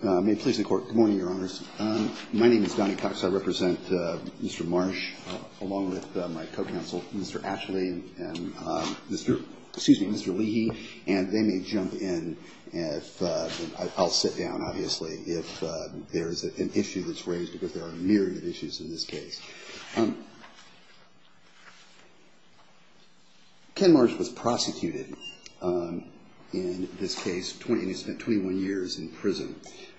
Good morning, Your Honors. My name is Donnie Cox. I represent Mr. Marsh, along with my co-counsel, Mr. Ashley and Mr. Leahy, and they may jump in. I'll sit down, obviously, if there's an issue that's raised, because there are a myriad of issues in this case. Ken Marsh was prosecuted in this case, and he spent 21 years in prison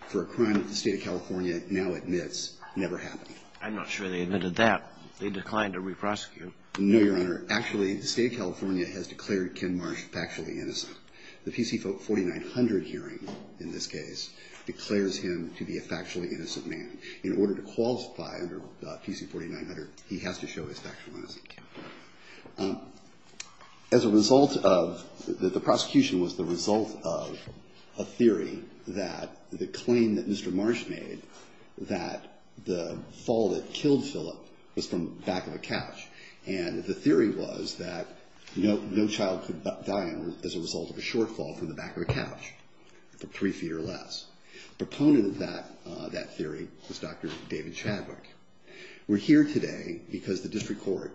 for a crime that the State of California now admits never happened. I'm not sure they admitted that. They declined to re-prosecute him. No, Your Honor. Actually, the State of California has declared Ken Marsh factually innocent. The P.C. 4900 hearing, in this case, declares him to be a factually innocent man. In order to qualify under P.C. 4900, he has to show his factual innocence. As a result of, the prosecution was the result of a theory that the claim that Mr. Marsh made that the fall that killed Philip was from the back of a couch, and the theory was that no child could die as a result of a shortfall from the back of a couch, for three feet or less. Proponent of that theory was Dr. David Chadwick. We're here today because the district court,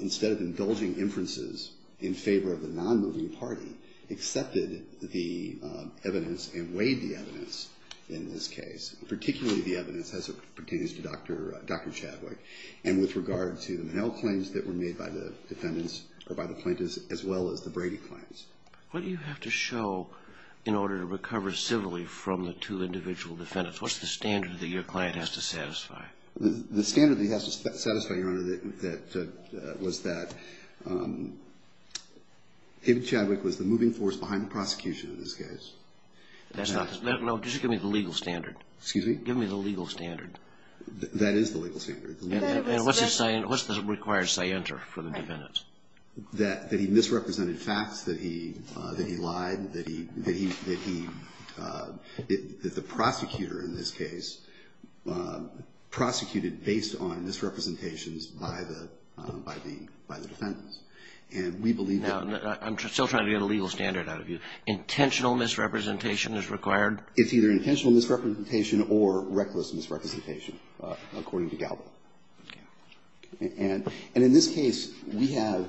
instead of indulging inferences in favor of the non-moving party, accepted the evidence and weighed the evidence in this case, particularly the evidence as it pertains to Dr. Chadwick, and with regard to the Monell claims that were made by the plaintiffs, as well as the Brady claims. What do you have to show in order to recover civilly from the two individual defendants? What's the standard that your client has to satisfy? The standard that he has to satisfy, Your Honor, was that David Chadwick was the moving force behind the prosecution in this case. No, just give me the legal standard. Excuse me? Give me the legal standard. That is the legal standard. What's the required scienter for the defendants? That he misrepresented facts, that he lied, that he, that the prosecutor in this case prosecuted based on misrepresentations by the defendants. And we believe that No, I'm still trying to get a legal standard out of you. Intentional misrepresentation is required? It's either intentional misrepresentation or reckless misrepresentation, according to Galba. Okay. And in this case, we have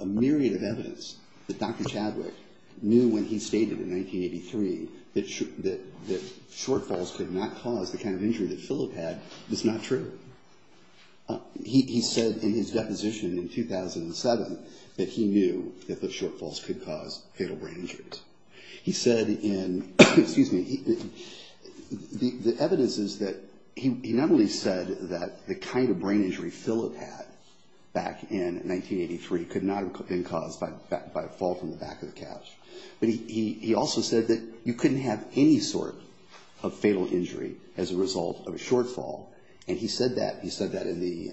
a myriad of evidence that Dr. Chadwick knew when he stated in 1983 that shortfalls could not cause the kind of injury that Philip had. That's not true. He said in his deposition in 2007 that he knew that shortfalls could cause fatal brain injuries. He said in, excuse me, the evidence is that he not only said that the kind of brain injury Philip had back in 1983 could not have been caused by a fall from the back of the couch, but he also said that you couldn't have any sort of fatal injury as a result of a shortfall. And he said that. He said that in the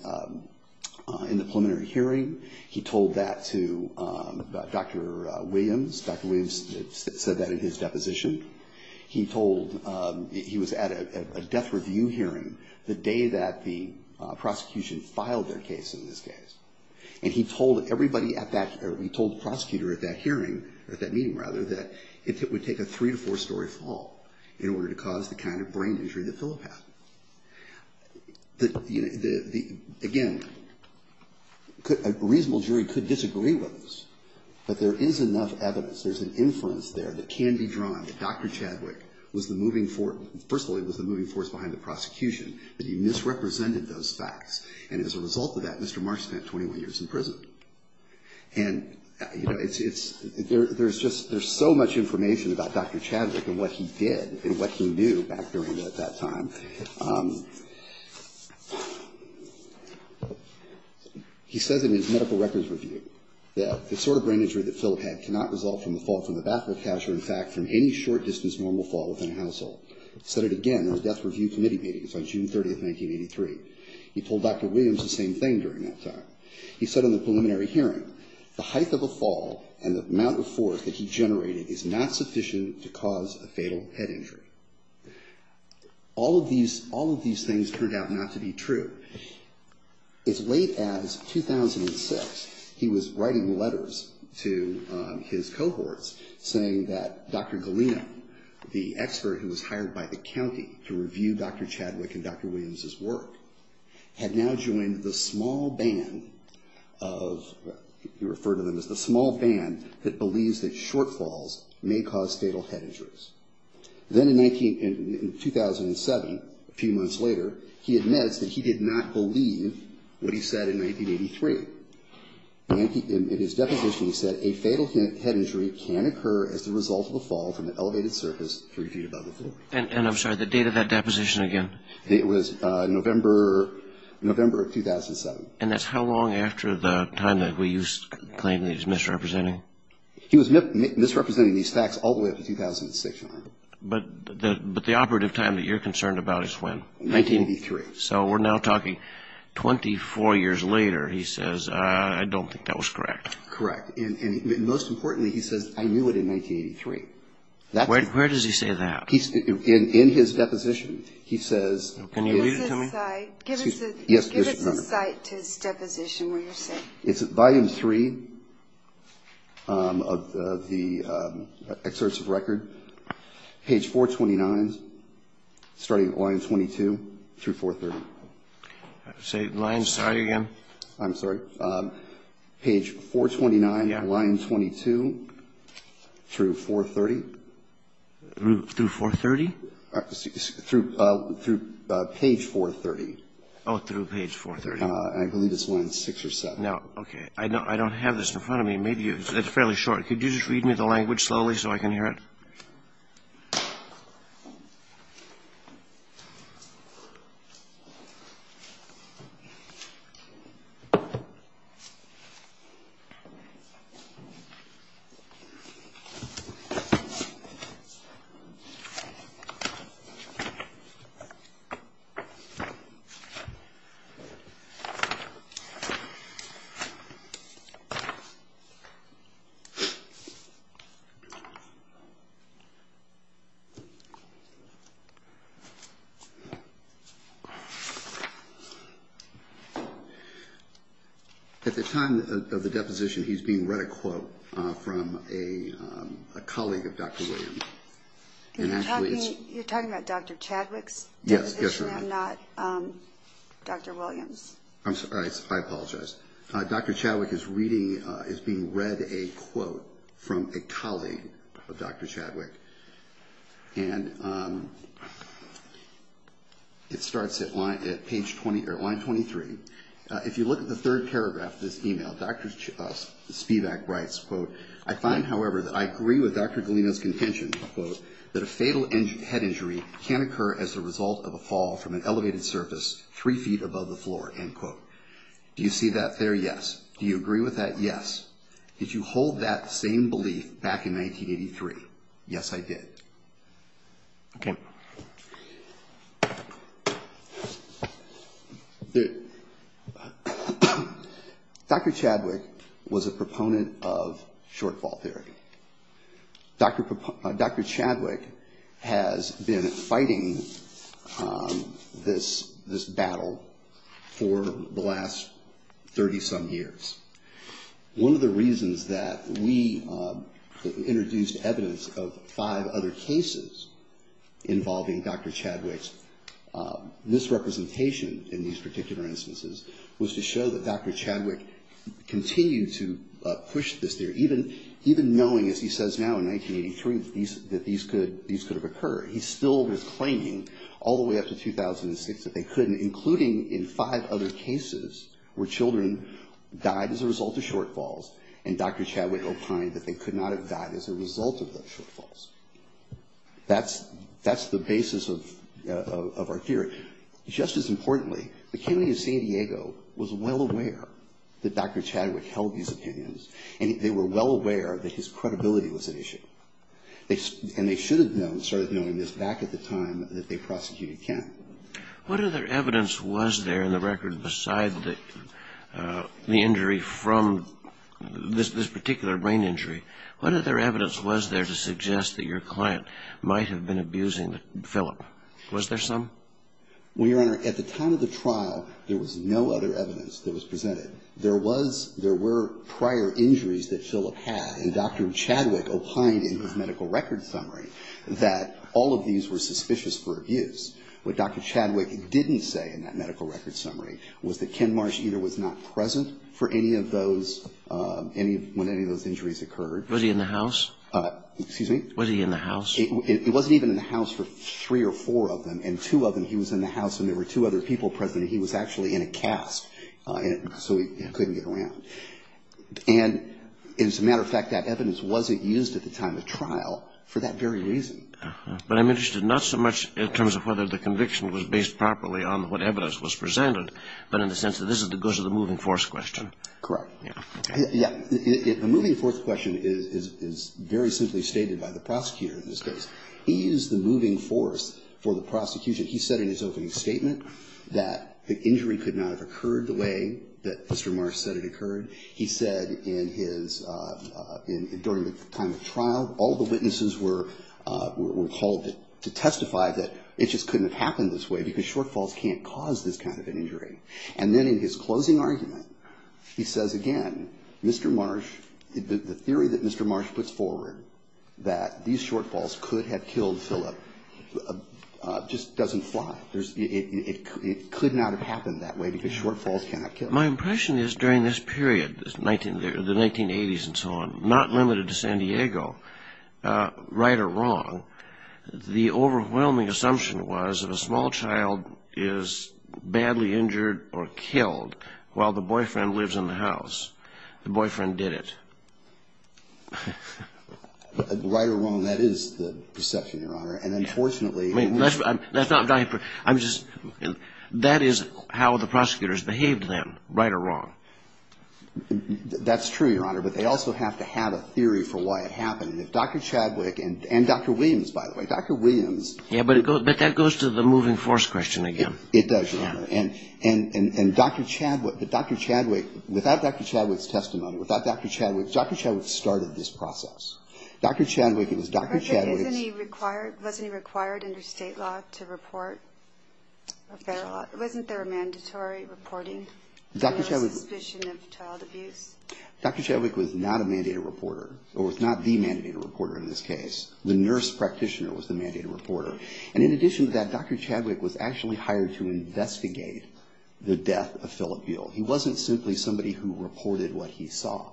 preliminary hearing. He told that to Dr. Williams. Dr. Williams said that in his deposition. He told, he was at a death review hearing the day that the prosecution filed their case in this case. And he told everybody at that, he told the prosecutor at that hearing, at that meeting rather, that it would take a three to four story fall in order to cause the kind of brain injury that Philip had. Again, a reasonable jury could disagree with this. But there is enough evidence. There's an inference there that can be drawn that Dr. Chadwick was the moving force, first of all, he was the moving force behind the prosecution, that he misrepresented those facts. And as a result of that, Mr. Mark spent 21 years in prison. And, you know, it's, there's just, there's so much information about Dr. Chadwick and what he did and what he knew back during that time. He says in his medical records review that the sort of brain injury that Philip had cannot result from the fall from the back of the couch or, in fact, from any short distance normal fall within a household. He said it again in the death review committee meetings on June 30, 1983. He told Dr. Williams the same thing during that time. He said in the preliminary hearing, the height of a fall and the amount of force that he generated is not sufficient to cause a fatal head injury. All of these, all of these things turned out not to be true. As late as 2006, he was writing letters to his cohorts saying that Dr. Galino, the expert who was hired by the county to review Dr. Chadwick and Dr. Williams' work, had now joined the small band of, he referred to them as the small band that believes that shortfalls may cause fatal head injuries. Then in 2007, a few months later, he admits that he did not believe what he said in 1983. In his deposition, he said a fatal head injury can occur as the result of a fall from an elevated surface three feet above the floor. And I'm sorry, the date of that deposition again? It was November, November of 2007. And that's how long after the time that we used to claim that he was misrepresenting? He was misrepresenting these facts all the way up to 2006. But the operative time that you're concerned about is when? 1983. So we're now talking 24 years later, he says, I don't think that was correct. Correct. And most importantly, he says, I knew it in 1983. Where does he say that? In his deposition, he says. Can you read it to me? Give us a cite to his deposition where you're saying. It's at volume three of the excerpts of record. Page 429, starting at line 22 through 430. Say line, sorry again. I'm sorry. Page 429, line 22 through 430. Through 430? Through page 430. Oh, through page 430. I believe it's line 6 or 7. No, okay. I don't have this in front of me. Maybe it's fairly short. Could you just read me the language slowly so I can hear it? Okay. At the time of the deposition, he's being read a quote from a colleague of Dr. Williams. You're talking about Dr. Chadwick's deposition and not Dr. Williams? I'm sorry, I apologize. Dr. Chadwick is being read a quote from a colleague of Dr. Chadwick. It starts at line 23. If you look at the third paragraph of this email, Dr. Spivak writes, quote, I find, however, that I agree with Dr. Galino's contention, quote, that a fatal head injury can occur as a result of a fall from an elevated surface three feet above the floor, end quote. Do you see that there? Yes. Do you agree with that? Yes. Did you hold that same belief back in 1983? Yes, I did. Okay. Dr. Chadwick was a proponent of shortfall theory. Dr. Chadwick has been fighting this battle for a long time. For the last 30-some years. One of the reasons that we introduced evidence of five other cases involving Dr. Chadwick's misrepresentation in these particular instances was to show that Dr. Chadwick continued to push this theory, even knowing, as he says now in 1983, that these could have occurred. He still was claiming all the way up to 2006 that they couldn't, including in five other cases where children died as a result of shortfalls, and Dr. Chadwick opined that they could not have died as a result of those shortfalls. That's the basis of our theory. Just as importantly, the county of San Diego was well aware that Dr. Chadwick held these opinions, and they were well aware that his credibility was at issue. And they should have known, started knowing this back at the time that they prosecuted Kent. What other evidence was there in the record beside the injury from this particular brain injury? What other evidence was there to suggest that your client might have been abusing Philip? Was there some? Well, Your Honor, at the time of the trial, there was no other evidence that was presented. There was, there were prior injuries that Philip had, and Dr. Chadwick opined in his medical record summary that all of these were suspicious for abuse. What Dr. Chadwick didn't say in that medical record summary was that Ken Marsh either was not present for any of those, when any of those injuries occurred. Was he in the house? Excuse me? Was he in the house? He wasn't even in the house for three or four of them, and two of them he was in the house, and there were two other people present, and he was actually in a cask, so he couldn't get around. And as a matter of fact, that evidence wasn't used at the time of trial for that very reason. But I'm interested not so much in terms of whether the conviction was based properly on what evidence was presented, but in the sense that this goes to the moving force question. Correct. Yes. The moving force question is very simply stated by the prosecutor in this case. He used the moving force for the prosecution. He said in his opening statement that the injury could not have occurred the way that Mr. Marsh said it occurred, he said in his, during the time of trial, all the witnesses were called to testify that it just couldn't have happened this way because shortfalls can't cause this kind of an injury. And then in his closing argument, he says again, Mr. Marsh, the theory that Mr. Marsh puts forward that these shortfalls could have killed Philip just doesn't fly. It could not have happened that way because shortfalls cannot kill. My impression is during this period, the 1980s and so on, not limited to San Diego, right or wrong, the overwhelming assumption was if a small child is badly injured or killed while the boyfriend lives in the house, the boyfriend did it. Right or wrong, that is the perception, Your Honor. And unfortunately... That is how the prosecutors behaved then, right or wrong. That's true, Your Honor. But they also have to have a theory for why it happened. Dr. Chadwick and Dr. Williams, by the way. Dr. Williams... But that goes to the moving force question again. It does, Your Honor. And Dr. Chadwick, without Dr. Chadwick's testimony, without Dr. Chadwick, Dr. Chadwick started this process. Dr. Chadwick... Wasn't he required under state law? To report? Wasn't there a mandatory reporting for suspicion of child abuse? Dr. Chadwick... Dr. Chadwick was not a mandated reporter or was not the mandated reporter in this case. The nurse practitioner was the mandated reporter. And in addition to that, Dr. Chadwick was actually hired to investigate the death of Phillip Buell. He wasn't simply somebody who reported what he saw.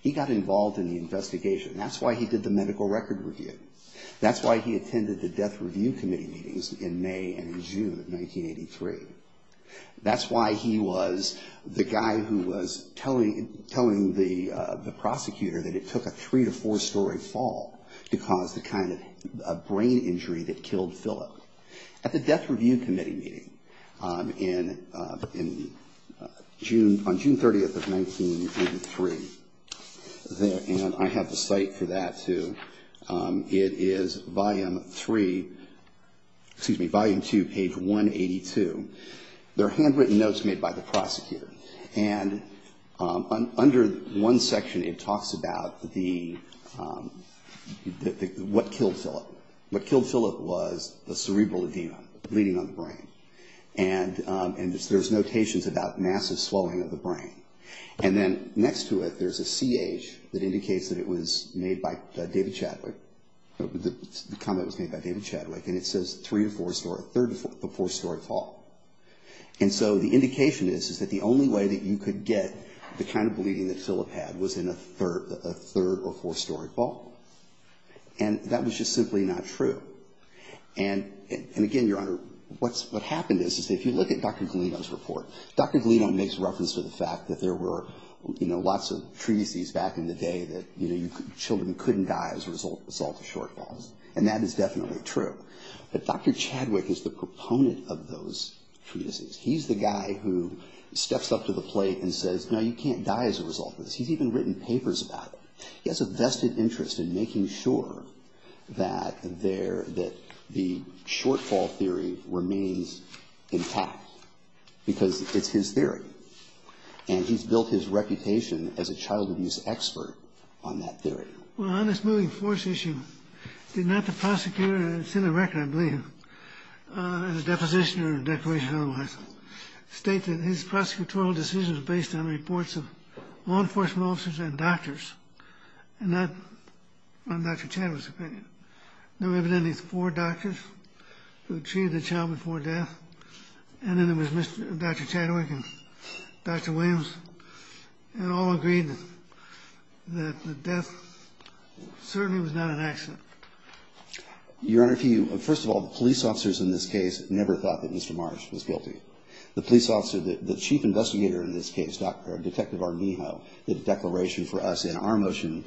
He got involved in the investigation. That's why he did the medical record review. That's why he attended the death review committee meetings in May and in June of 1983. That's why he was the guy who was telling the prosecutor that it took a three to four story fall to cause the kind of brain injury that killed Phillip. At the death review committee meeting on June 30th of 1983, and I have the site for that too, it is volume three, excuse me, volume two, page 182. There are handwritten notes made by the prosecutor. And under one section it talks about the, what killed Phillip. What killed Phillip was the cerebral edema, bleeding on the brain. And there's notations about massive swelling of the brain. And then next to it, there's a CH that indicates that it was made by David Chadwick. The comment was made by David Chadwick. And it says three to four story, third to four story fall. And so the indication is that the only way that you could get the kind of bleeding that Phillip had was in a third or four story fall. And that was just simply not true. And again, Your Honor, what happened is, if you look at Dr. Galino's report, Dr. Galino said that there were lots of treatises back in the day that children couldn't die as a result of shortfalls. And that is definitely true. But Dr. Chadwick is the proponent of those treatises. He's the guy who steps up to the plate and says, no, you can't die as a result of this. He's even written papers about it. He has a vested interest in making sure that the shortfall theory remains intact. Because it's his theory. And he's built his reputation as a child abuse expert on that theory. Well, on this moving force issue, did not the prosecutor, it's in the record, I believe, in the deposition or declaration otherwise, state that his prosecutorial decision was based on reports of law enforcement officers and doctors. And that, in Dr. Chadwick's opinion, there were evidently four doctors who treated the child before death. And then there was Dr. Chadwick and Dr. Williams. And all agreed that the death certainly was not an accident. Your Honor, if you, first of all, the police officers in this case never thought that Mr. Marsh was guilty. The police officer, the chief investigator in this case, Detective Arnijo, did a declaration for us in our motion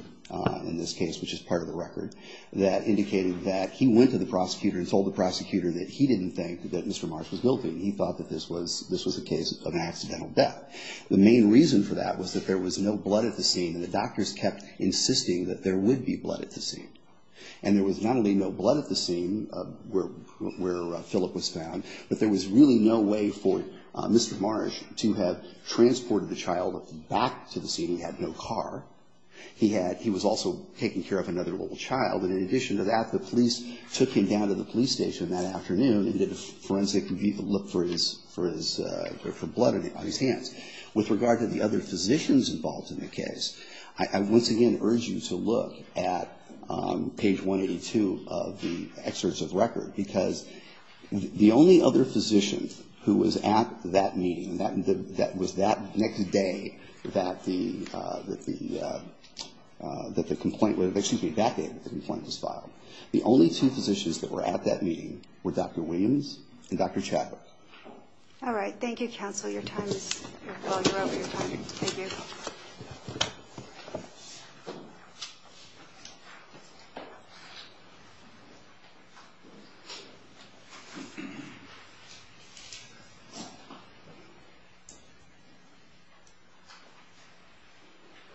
in this case, which is part of the record, that indicated that he went to the prosecutor and told the prosecutor that he didn't think that Mr. Marsh was guilty and he thought that this was a case of accidental death. The main reason for that was that there was no blood at the scene and the doctors kept insisting that there would be blood at the scene. And there was not only no blood at the scene where Philip was found, but there was really no way for Mr. Marsh to have transported the child back to the scene. He had no car. He was also taking care of another little child. And in addition to that, the police took him down to the police station that afternoon and did a forensic look for his, for his, for blood on his hands. With regard to the other physicians involved in the case, I once again urge you to look at page 182 of the excerpts of the record, because the only other physician who was at that meeting, that was that next day that the, that the complaint was, excuse me, that day that the complaint was filed, the only two physicians that were at that meeting were Dr. Williams and Dr. Chadwick. All right. Thank you, counsel. Your time is, well, you're over your time. Thank you.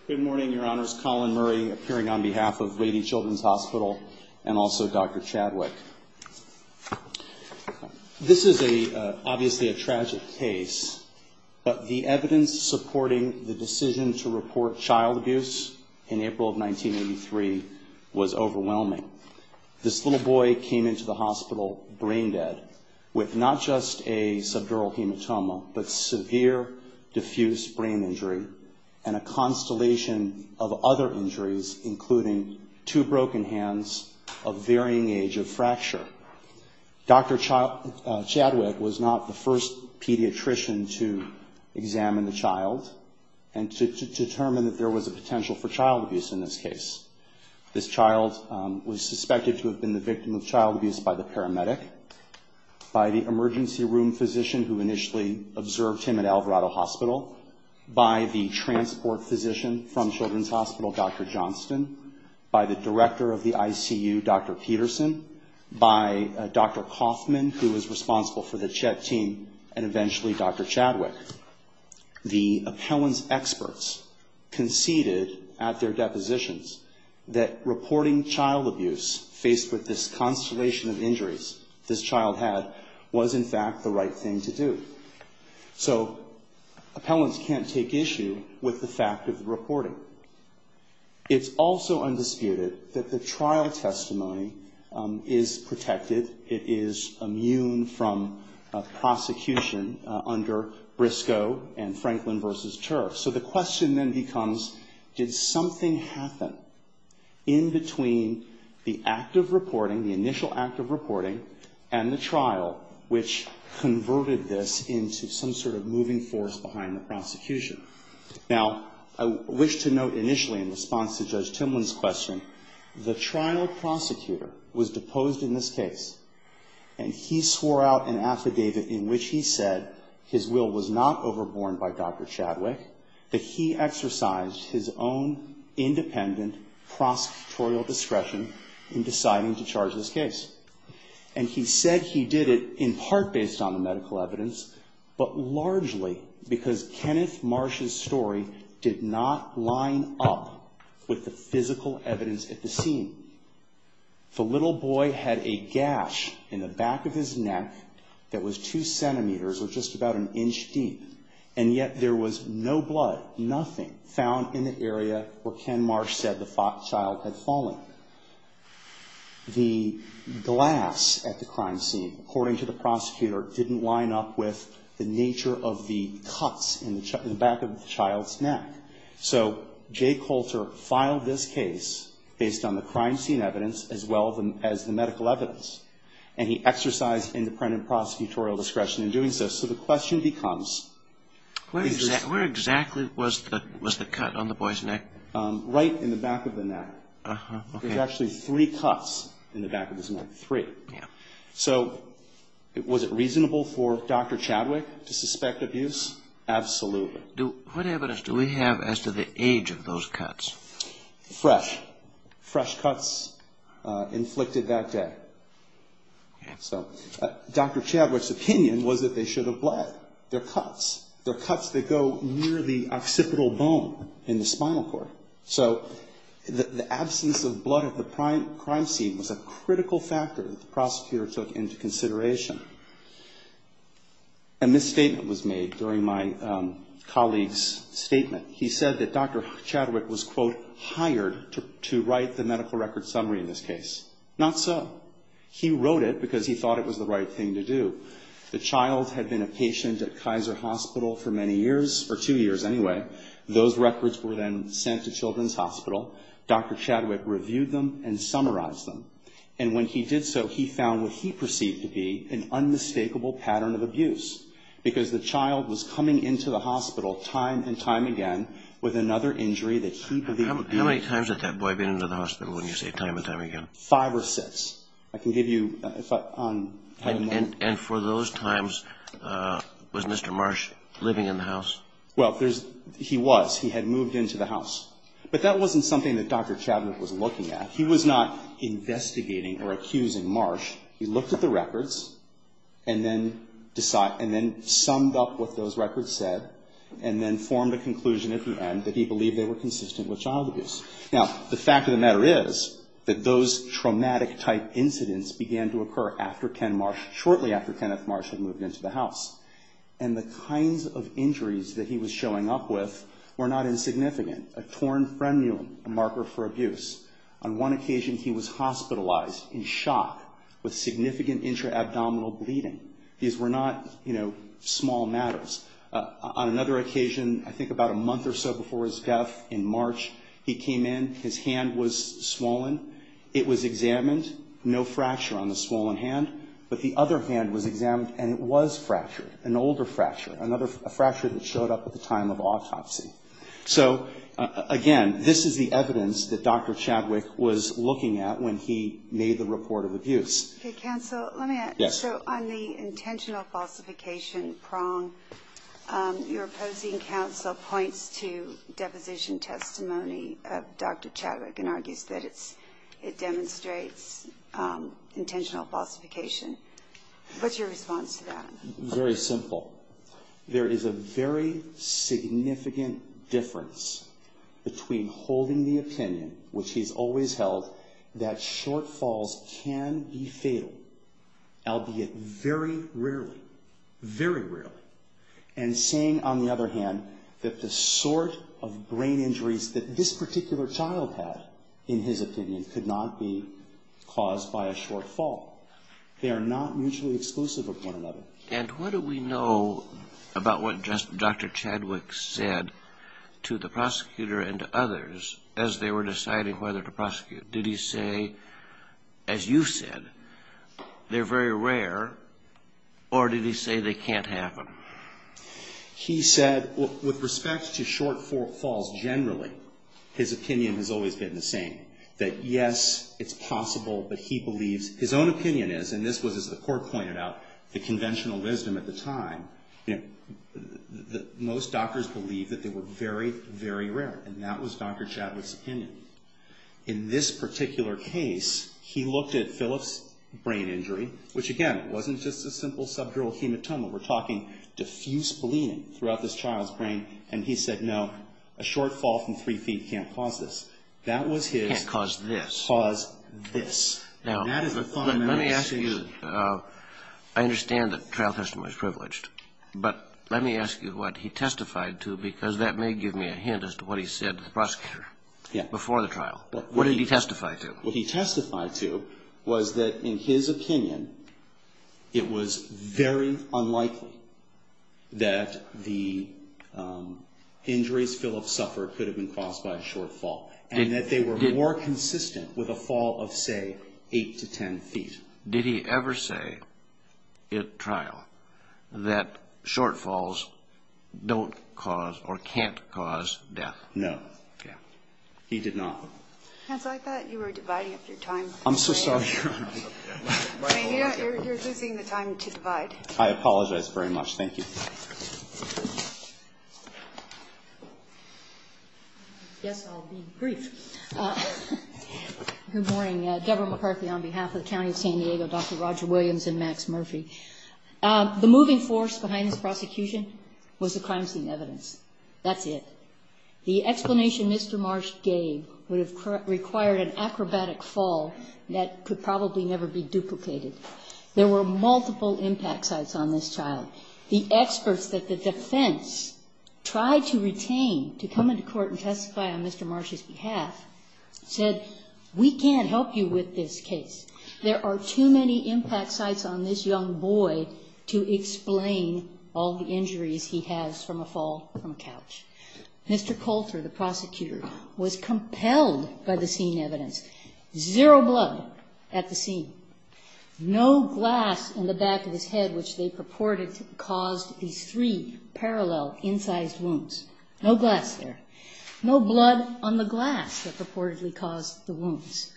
Good morning, Your Honors. Colin Murray appearing on behalf of Lady Children's Hospital and also Dr. Chadwick. This is a, obviously a tragic case, but the evidence supporting the decision to report child abuse in April of 1983 was overwhelming. This little boy came into the hospital brain dead with not just a subdural hematoma, but severe diffuse brain injury and a constellation of other injuries, including two broken hands, a varying age of fracture. Dr. Chadwick was not the first pediatrician to examine the child and to, to determine that there was a potential for child abuse in this case. This child was suspected to have been the victim of child abuse by the paramedic, by the emergency room physician who initially observed him at Alvarado Hospital, by the transport physician from Children's Hospital, Dr. Johnston, by the director of the ICU, Dr. Peterson, by Dr. Kaufman, who was responsible for the CHET team, and eventually Dr. Chadwick. The appellant's experts conceded at their depositions that reporting child abuse faced with this constellation of injuries this child had was, in fact, the right thing to do. So appellants can't take issue with the fact of the reporting. It's also undisputed that the trial testimony is protected. It is immune from prosecution under Briscoe and Franklin v. Turf. So the question then becomes, did something happen in between the active reporting, the initial active reporting, and the trial, which converted this into some sort of moving force behind the prosecution? Now, I wish to note initially in response to Judge Timlin's question, the trial prosecutor was deposed in this case, and he swore out an affidavit in which he said his will was not overborne by Dr. Chadwick, that he exercised his own independent prosecutorial discretion in deciding to charge this case. And he said he did it in part based on the medical evidence, but largely because Kenneth Marsh's story did not line up with the physical evidence at the scene. The little boy had a gash in the back of his neck that was two centimeters, or just about an inch deep, and yet there was no blood, nothing, found in the area where Ken Marsh said the child had fallen. The glass at the crime scene, according to the prosecutor, didn't line up with the nature of the cuts in the back of the child's neck. So Jay Coulter filed this case based on the crime scene evidence as well as the medical evidence, and he exercised independent prosecutorial discretion in doing so. So the question becomes, where exactly was the cut on the boy's neck? Right in the back of the neck. There's actually three cuts in the back of his neck, three. So was it reasonable for Dr. Chadwick to suspect abuse? Absolutely. What evidence do we have as to the age of those cuts? Fresh. Fresh cuts inflicted that day. So Dr. Chadwick's opinion was that they should have bled. They're cuts. They're cuts that go near the occipital bone in the spinal cord. So the absence of blood at the crime scene was a critical factor that the prosecutor took into consideration. A misstatement was made during my colleague's statement. He said that Dr. Chadwick was, quote, to write the medical record summary in this case. Not so. He wrote it because he thought it was the right thing to do. The child had been a patient at Kaiser Hospital for many years, for two years anyway. Those records were then sent to Children's Hospital. Dr. Chadwick reviewed them and summarized them. And when he did so, he found what he perceived to be an unmistakable pattern of abuse, because the child was coming into the hospital time and time again with another injury that he believed... How many times had that boy been into the hospital when you say time and time again? Five or six. I can give you... And for those times, was Mr. Marsh living in the house? Well, he was. He had moved into the house. But that wasn't something that Dr. Chadwick was looking at. He was not investigating or accusing Marsh. He looked at the records and then summed up what those records said and then formed a conclusion at the end that he believed they were consistent with child abuse. Now, the fact of the matter is that those traumatic-type incidents began to occur shortly after Kenneth Marsh had moved into the house. And the kinds of injuries that he was showing up with were not insignificant. On one occasion, he was hospitalized in shock with significant intra-abdominal bleeding. These were not, you know, small matters. On another occasion, I think about a month or so before his death in March, he came in. His hand was swollen. It was examined. No fracture on the swollen hand. But the other hand was examined, and it was fractured, an older fracture, a fracture that showed up at the time of autopsy. So, again, this is the evidence that Dr. Chadwick was looking at when he made the report of abuse. Okay, counsel, let me ask. Yes. So on the intentional falsification prong, your opposing counsel points to deposition testimony of Dr. Chadwick and argues that it demonstrates intentional falsification. What's your response to that? Very simple. There is a very significant difference between holding the opinion, which he's always held, that shortfalls can be fatal, albeit very rarely, very rarely, and saying, on the other hand, that the sort of brain injuries that this particular child had, in his opinion, could not be caused by a shortfall. They are not mutually exclusive of one another. And what do we know about what Dr. Chadwick said to the prosecutor and to others as they were deciding whether to prosecute? Did he say, as you said, they're very rare, or did he say they can't happen? He said, with respect to shortfalls generally, his opinion has always been the same, that, yes, it's possible, but he believes, his own opinion is, and this was, as the Court pointed out, the conventional wisdom at the time, that most doctors believed that they were very, very rare, and that was Dr. Chadwick's opinion. In this particular case, he looked at Philip's brain injury, which, again, wasn't just a simple subdural hematoma. We're talking diffuse bleeding throughout this child's brain, and he said, no, a shortfall from three feet can't cause this. That was his cause this. Now, let me ask you, I understand that trial testimony is privileged, but let me ask you what he testified to, because that may give me a hint as to what he said to the prosecutor before the trial. What did he testify to? What he testified to was that, in his opinion, it was very unlikely that the injuries Philip suffered could have been caused by a shortfall, and that they were more consistent with a fall of, say, eight to ten feet. Did he ever say at trial that shortfalls don't cause or can't cause death? No. Okay. He did not. Counsel, I thought you were dividing up your time. I'm so sorry, Your Honor. You're losing the time to divide. I apologize very much. Thank you. Yes, I'll be brief. Good morning. Deborah McCarthy on behalf of the County of San Diego, Dr. Roger Williams, and Max Murphy. The moving force behind this prosecution was the crime scene evidence. That's it. The explanation Mr. Marsh gave would have required an acrobatic fall that could probably never be duplicated. There were multiple impact sites on this child. The experts that the defense tried to retain to come into court and testify on Mr. Marsh's behalf said, we can't help you with this case. There are too many impact sites on this young boy to explain all the injuries he has from a fall from a couch. Mr. Coulter, the prosecutor, was compelled by the scene evidence. Zero blood at the scene. No glass in the back of his head which they purported caused these three parallel incised wounds. No glass there. No blood on the glass that purportedly caused the wounds.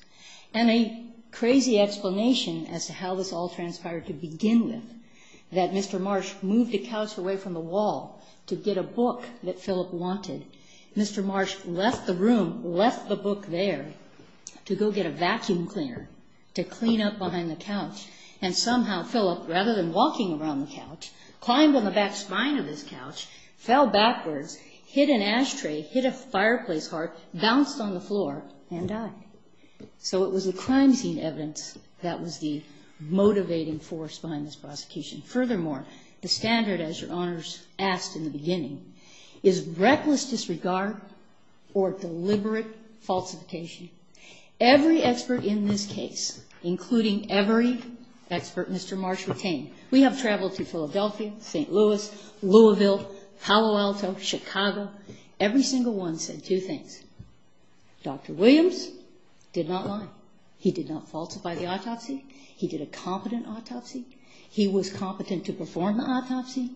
And a crazy explanation as to how this all transpired to begin with, that Mr. Marsh moved a couch away from the wall to get a book that Philip wanted. Mr. Marsh left the room, left the book there to go get a vacuum cleaner to clean up behind the couch, and somehow Philip, rather than walking around the couch, climbed on the back spine of his couch, fell backwards, hit an ashtray, hit a fireplace heart, bounced on the floor, and died. So it was the crime scene evidence that was the motivating force behind this prosecution. Furthermore, the standard, as your honors asked in the beginning, is reckless disregard or deliberate falsification. Every expert in this case, including every expert Mr. Marsh retained, we have traveled to Philadelphia, St. Louis, Louisville, Palo Alto, Chicago. Every single one said two things. Dr. Williams did not lie. He did not falsify the autopsy. He did a competent autopsy. He was competent to perform the autopsy.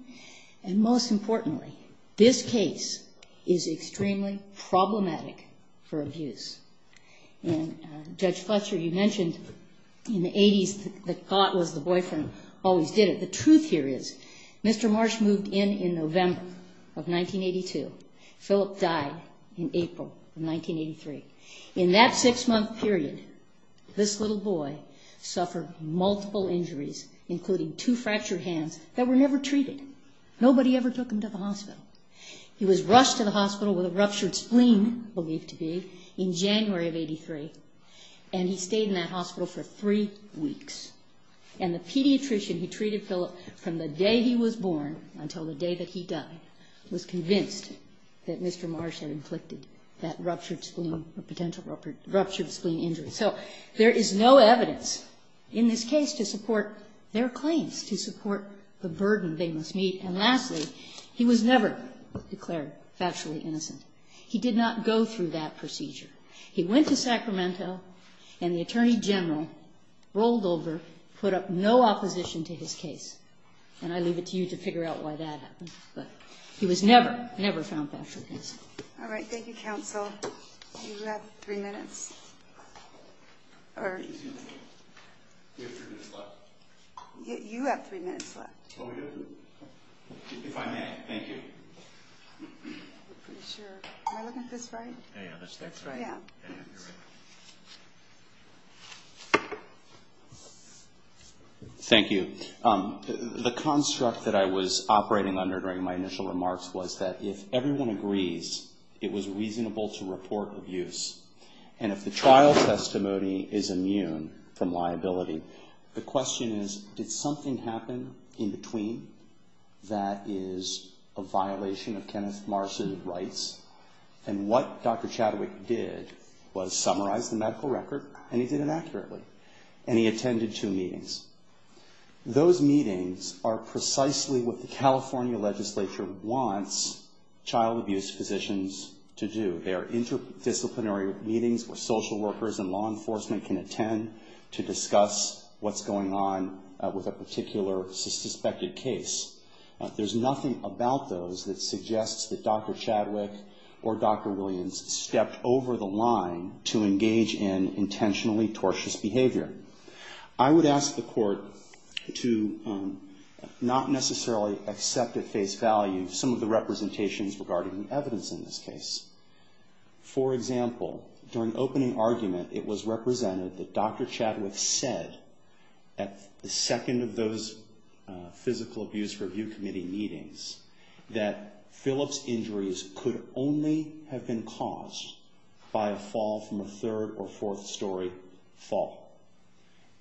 And most importantly, this case is extremely problematic for abuse. And Judge Fletcher, you mentioned in the 80s the thought was the boyfriend always did it. The truth here is Mr. Marsh moved in in November of 1982. Philip died in April of 1983. In that six-month period, this little boy suffered multiple injuries, including two fractured hands, that were never treated. Nobody ever took him to the hospital. He was rushed to the hospital with a ruptured spleen, believed to be, in January of 83, and he stayed in that hospital for three weeks. And the pediatrician who treated Philip from the day he was born until the day that he died was convinced that Mr. Marsh had inflicted that ruptured spleen or potential ruptured spleen injury. So there is no evidence in this case to support their claims, to support the burden they must meet. And lastly, he was never declared factually innocent. He did not go through that procedure. He went to Sacramento, and the Attorney General rolled over, put up no opposition to his case. And I leave it to you to figure out why that happened. But he was never, never found factually innocent. All right. Thank you, counsel. You have three minutes. You have three minutes left. You have three minutes left. Oh, we do? If I may, thank you. I'm not pretty sure. Am I looking at this right? Yeah, that's right. Yeah. Yeah, you're right. Thank you. The construct that I was operating under during my initial remarks was that if everyone agrees, it was reasonable to report abuse. And if the trial testimony is immune from liability, the question is, did something happen in between that is a violation of Kenneth Marsha's rights? And what Dr. Chadwick did was summarize the medical record, and he did it accurately. And he attended two meetings. Those meetings are precisely what the California legislature wants child abuse physicians to do. They are interdisciplinary meetings where social workers and law enforcement can attend to discuss what's going on with a particular suspected case. There's nothing about those that suggests that Dr. Chadwick or Dr. Williams stepped over the line to engage in intentionally tortious behavior. I would ask the court to not necessarily accept at face value some of the representations regarding the evidence in this case. For example, during opening argument, it was represented that Dr. Chadwick said at the second of those physical abuse review committee meetings that Philip's injuries could only have been caused by a fall from a third or fourth story fall.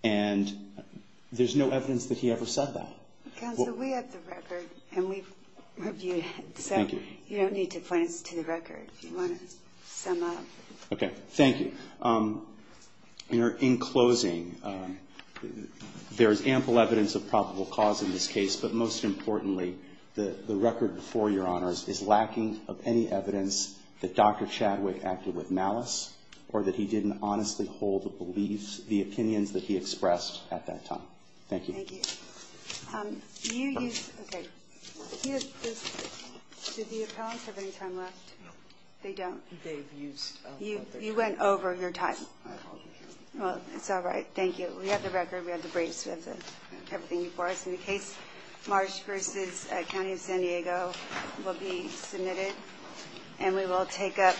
And there's no evidence that he ever said that. Counsel, we have the record, and we've reviewed it. Thank you. So you don't need to point us to the record if you want to sum up. Okay. Thank you. In closing, there's ample evidence of probable cause in this case, but most importantly, the record before Your Honors is lacking of any evidence that Dr. Chadwick can hold the beliefs, the opinions that he expressed at that time. Thank you. Thank you. Do you use, okay. Do the appellants have any time left? No. They don't. They've used up their time. You went over your time. Yes, I apologize. Well, it's all right. Thank you. We have the record. We have the briefs. We have everything before us. In the case, Marsh v. County of San Diego will be submitted, and we will take up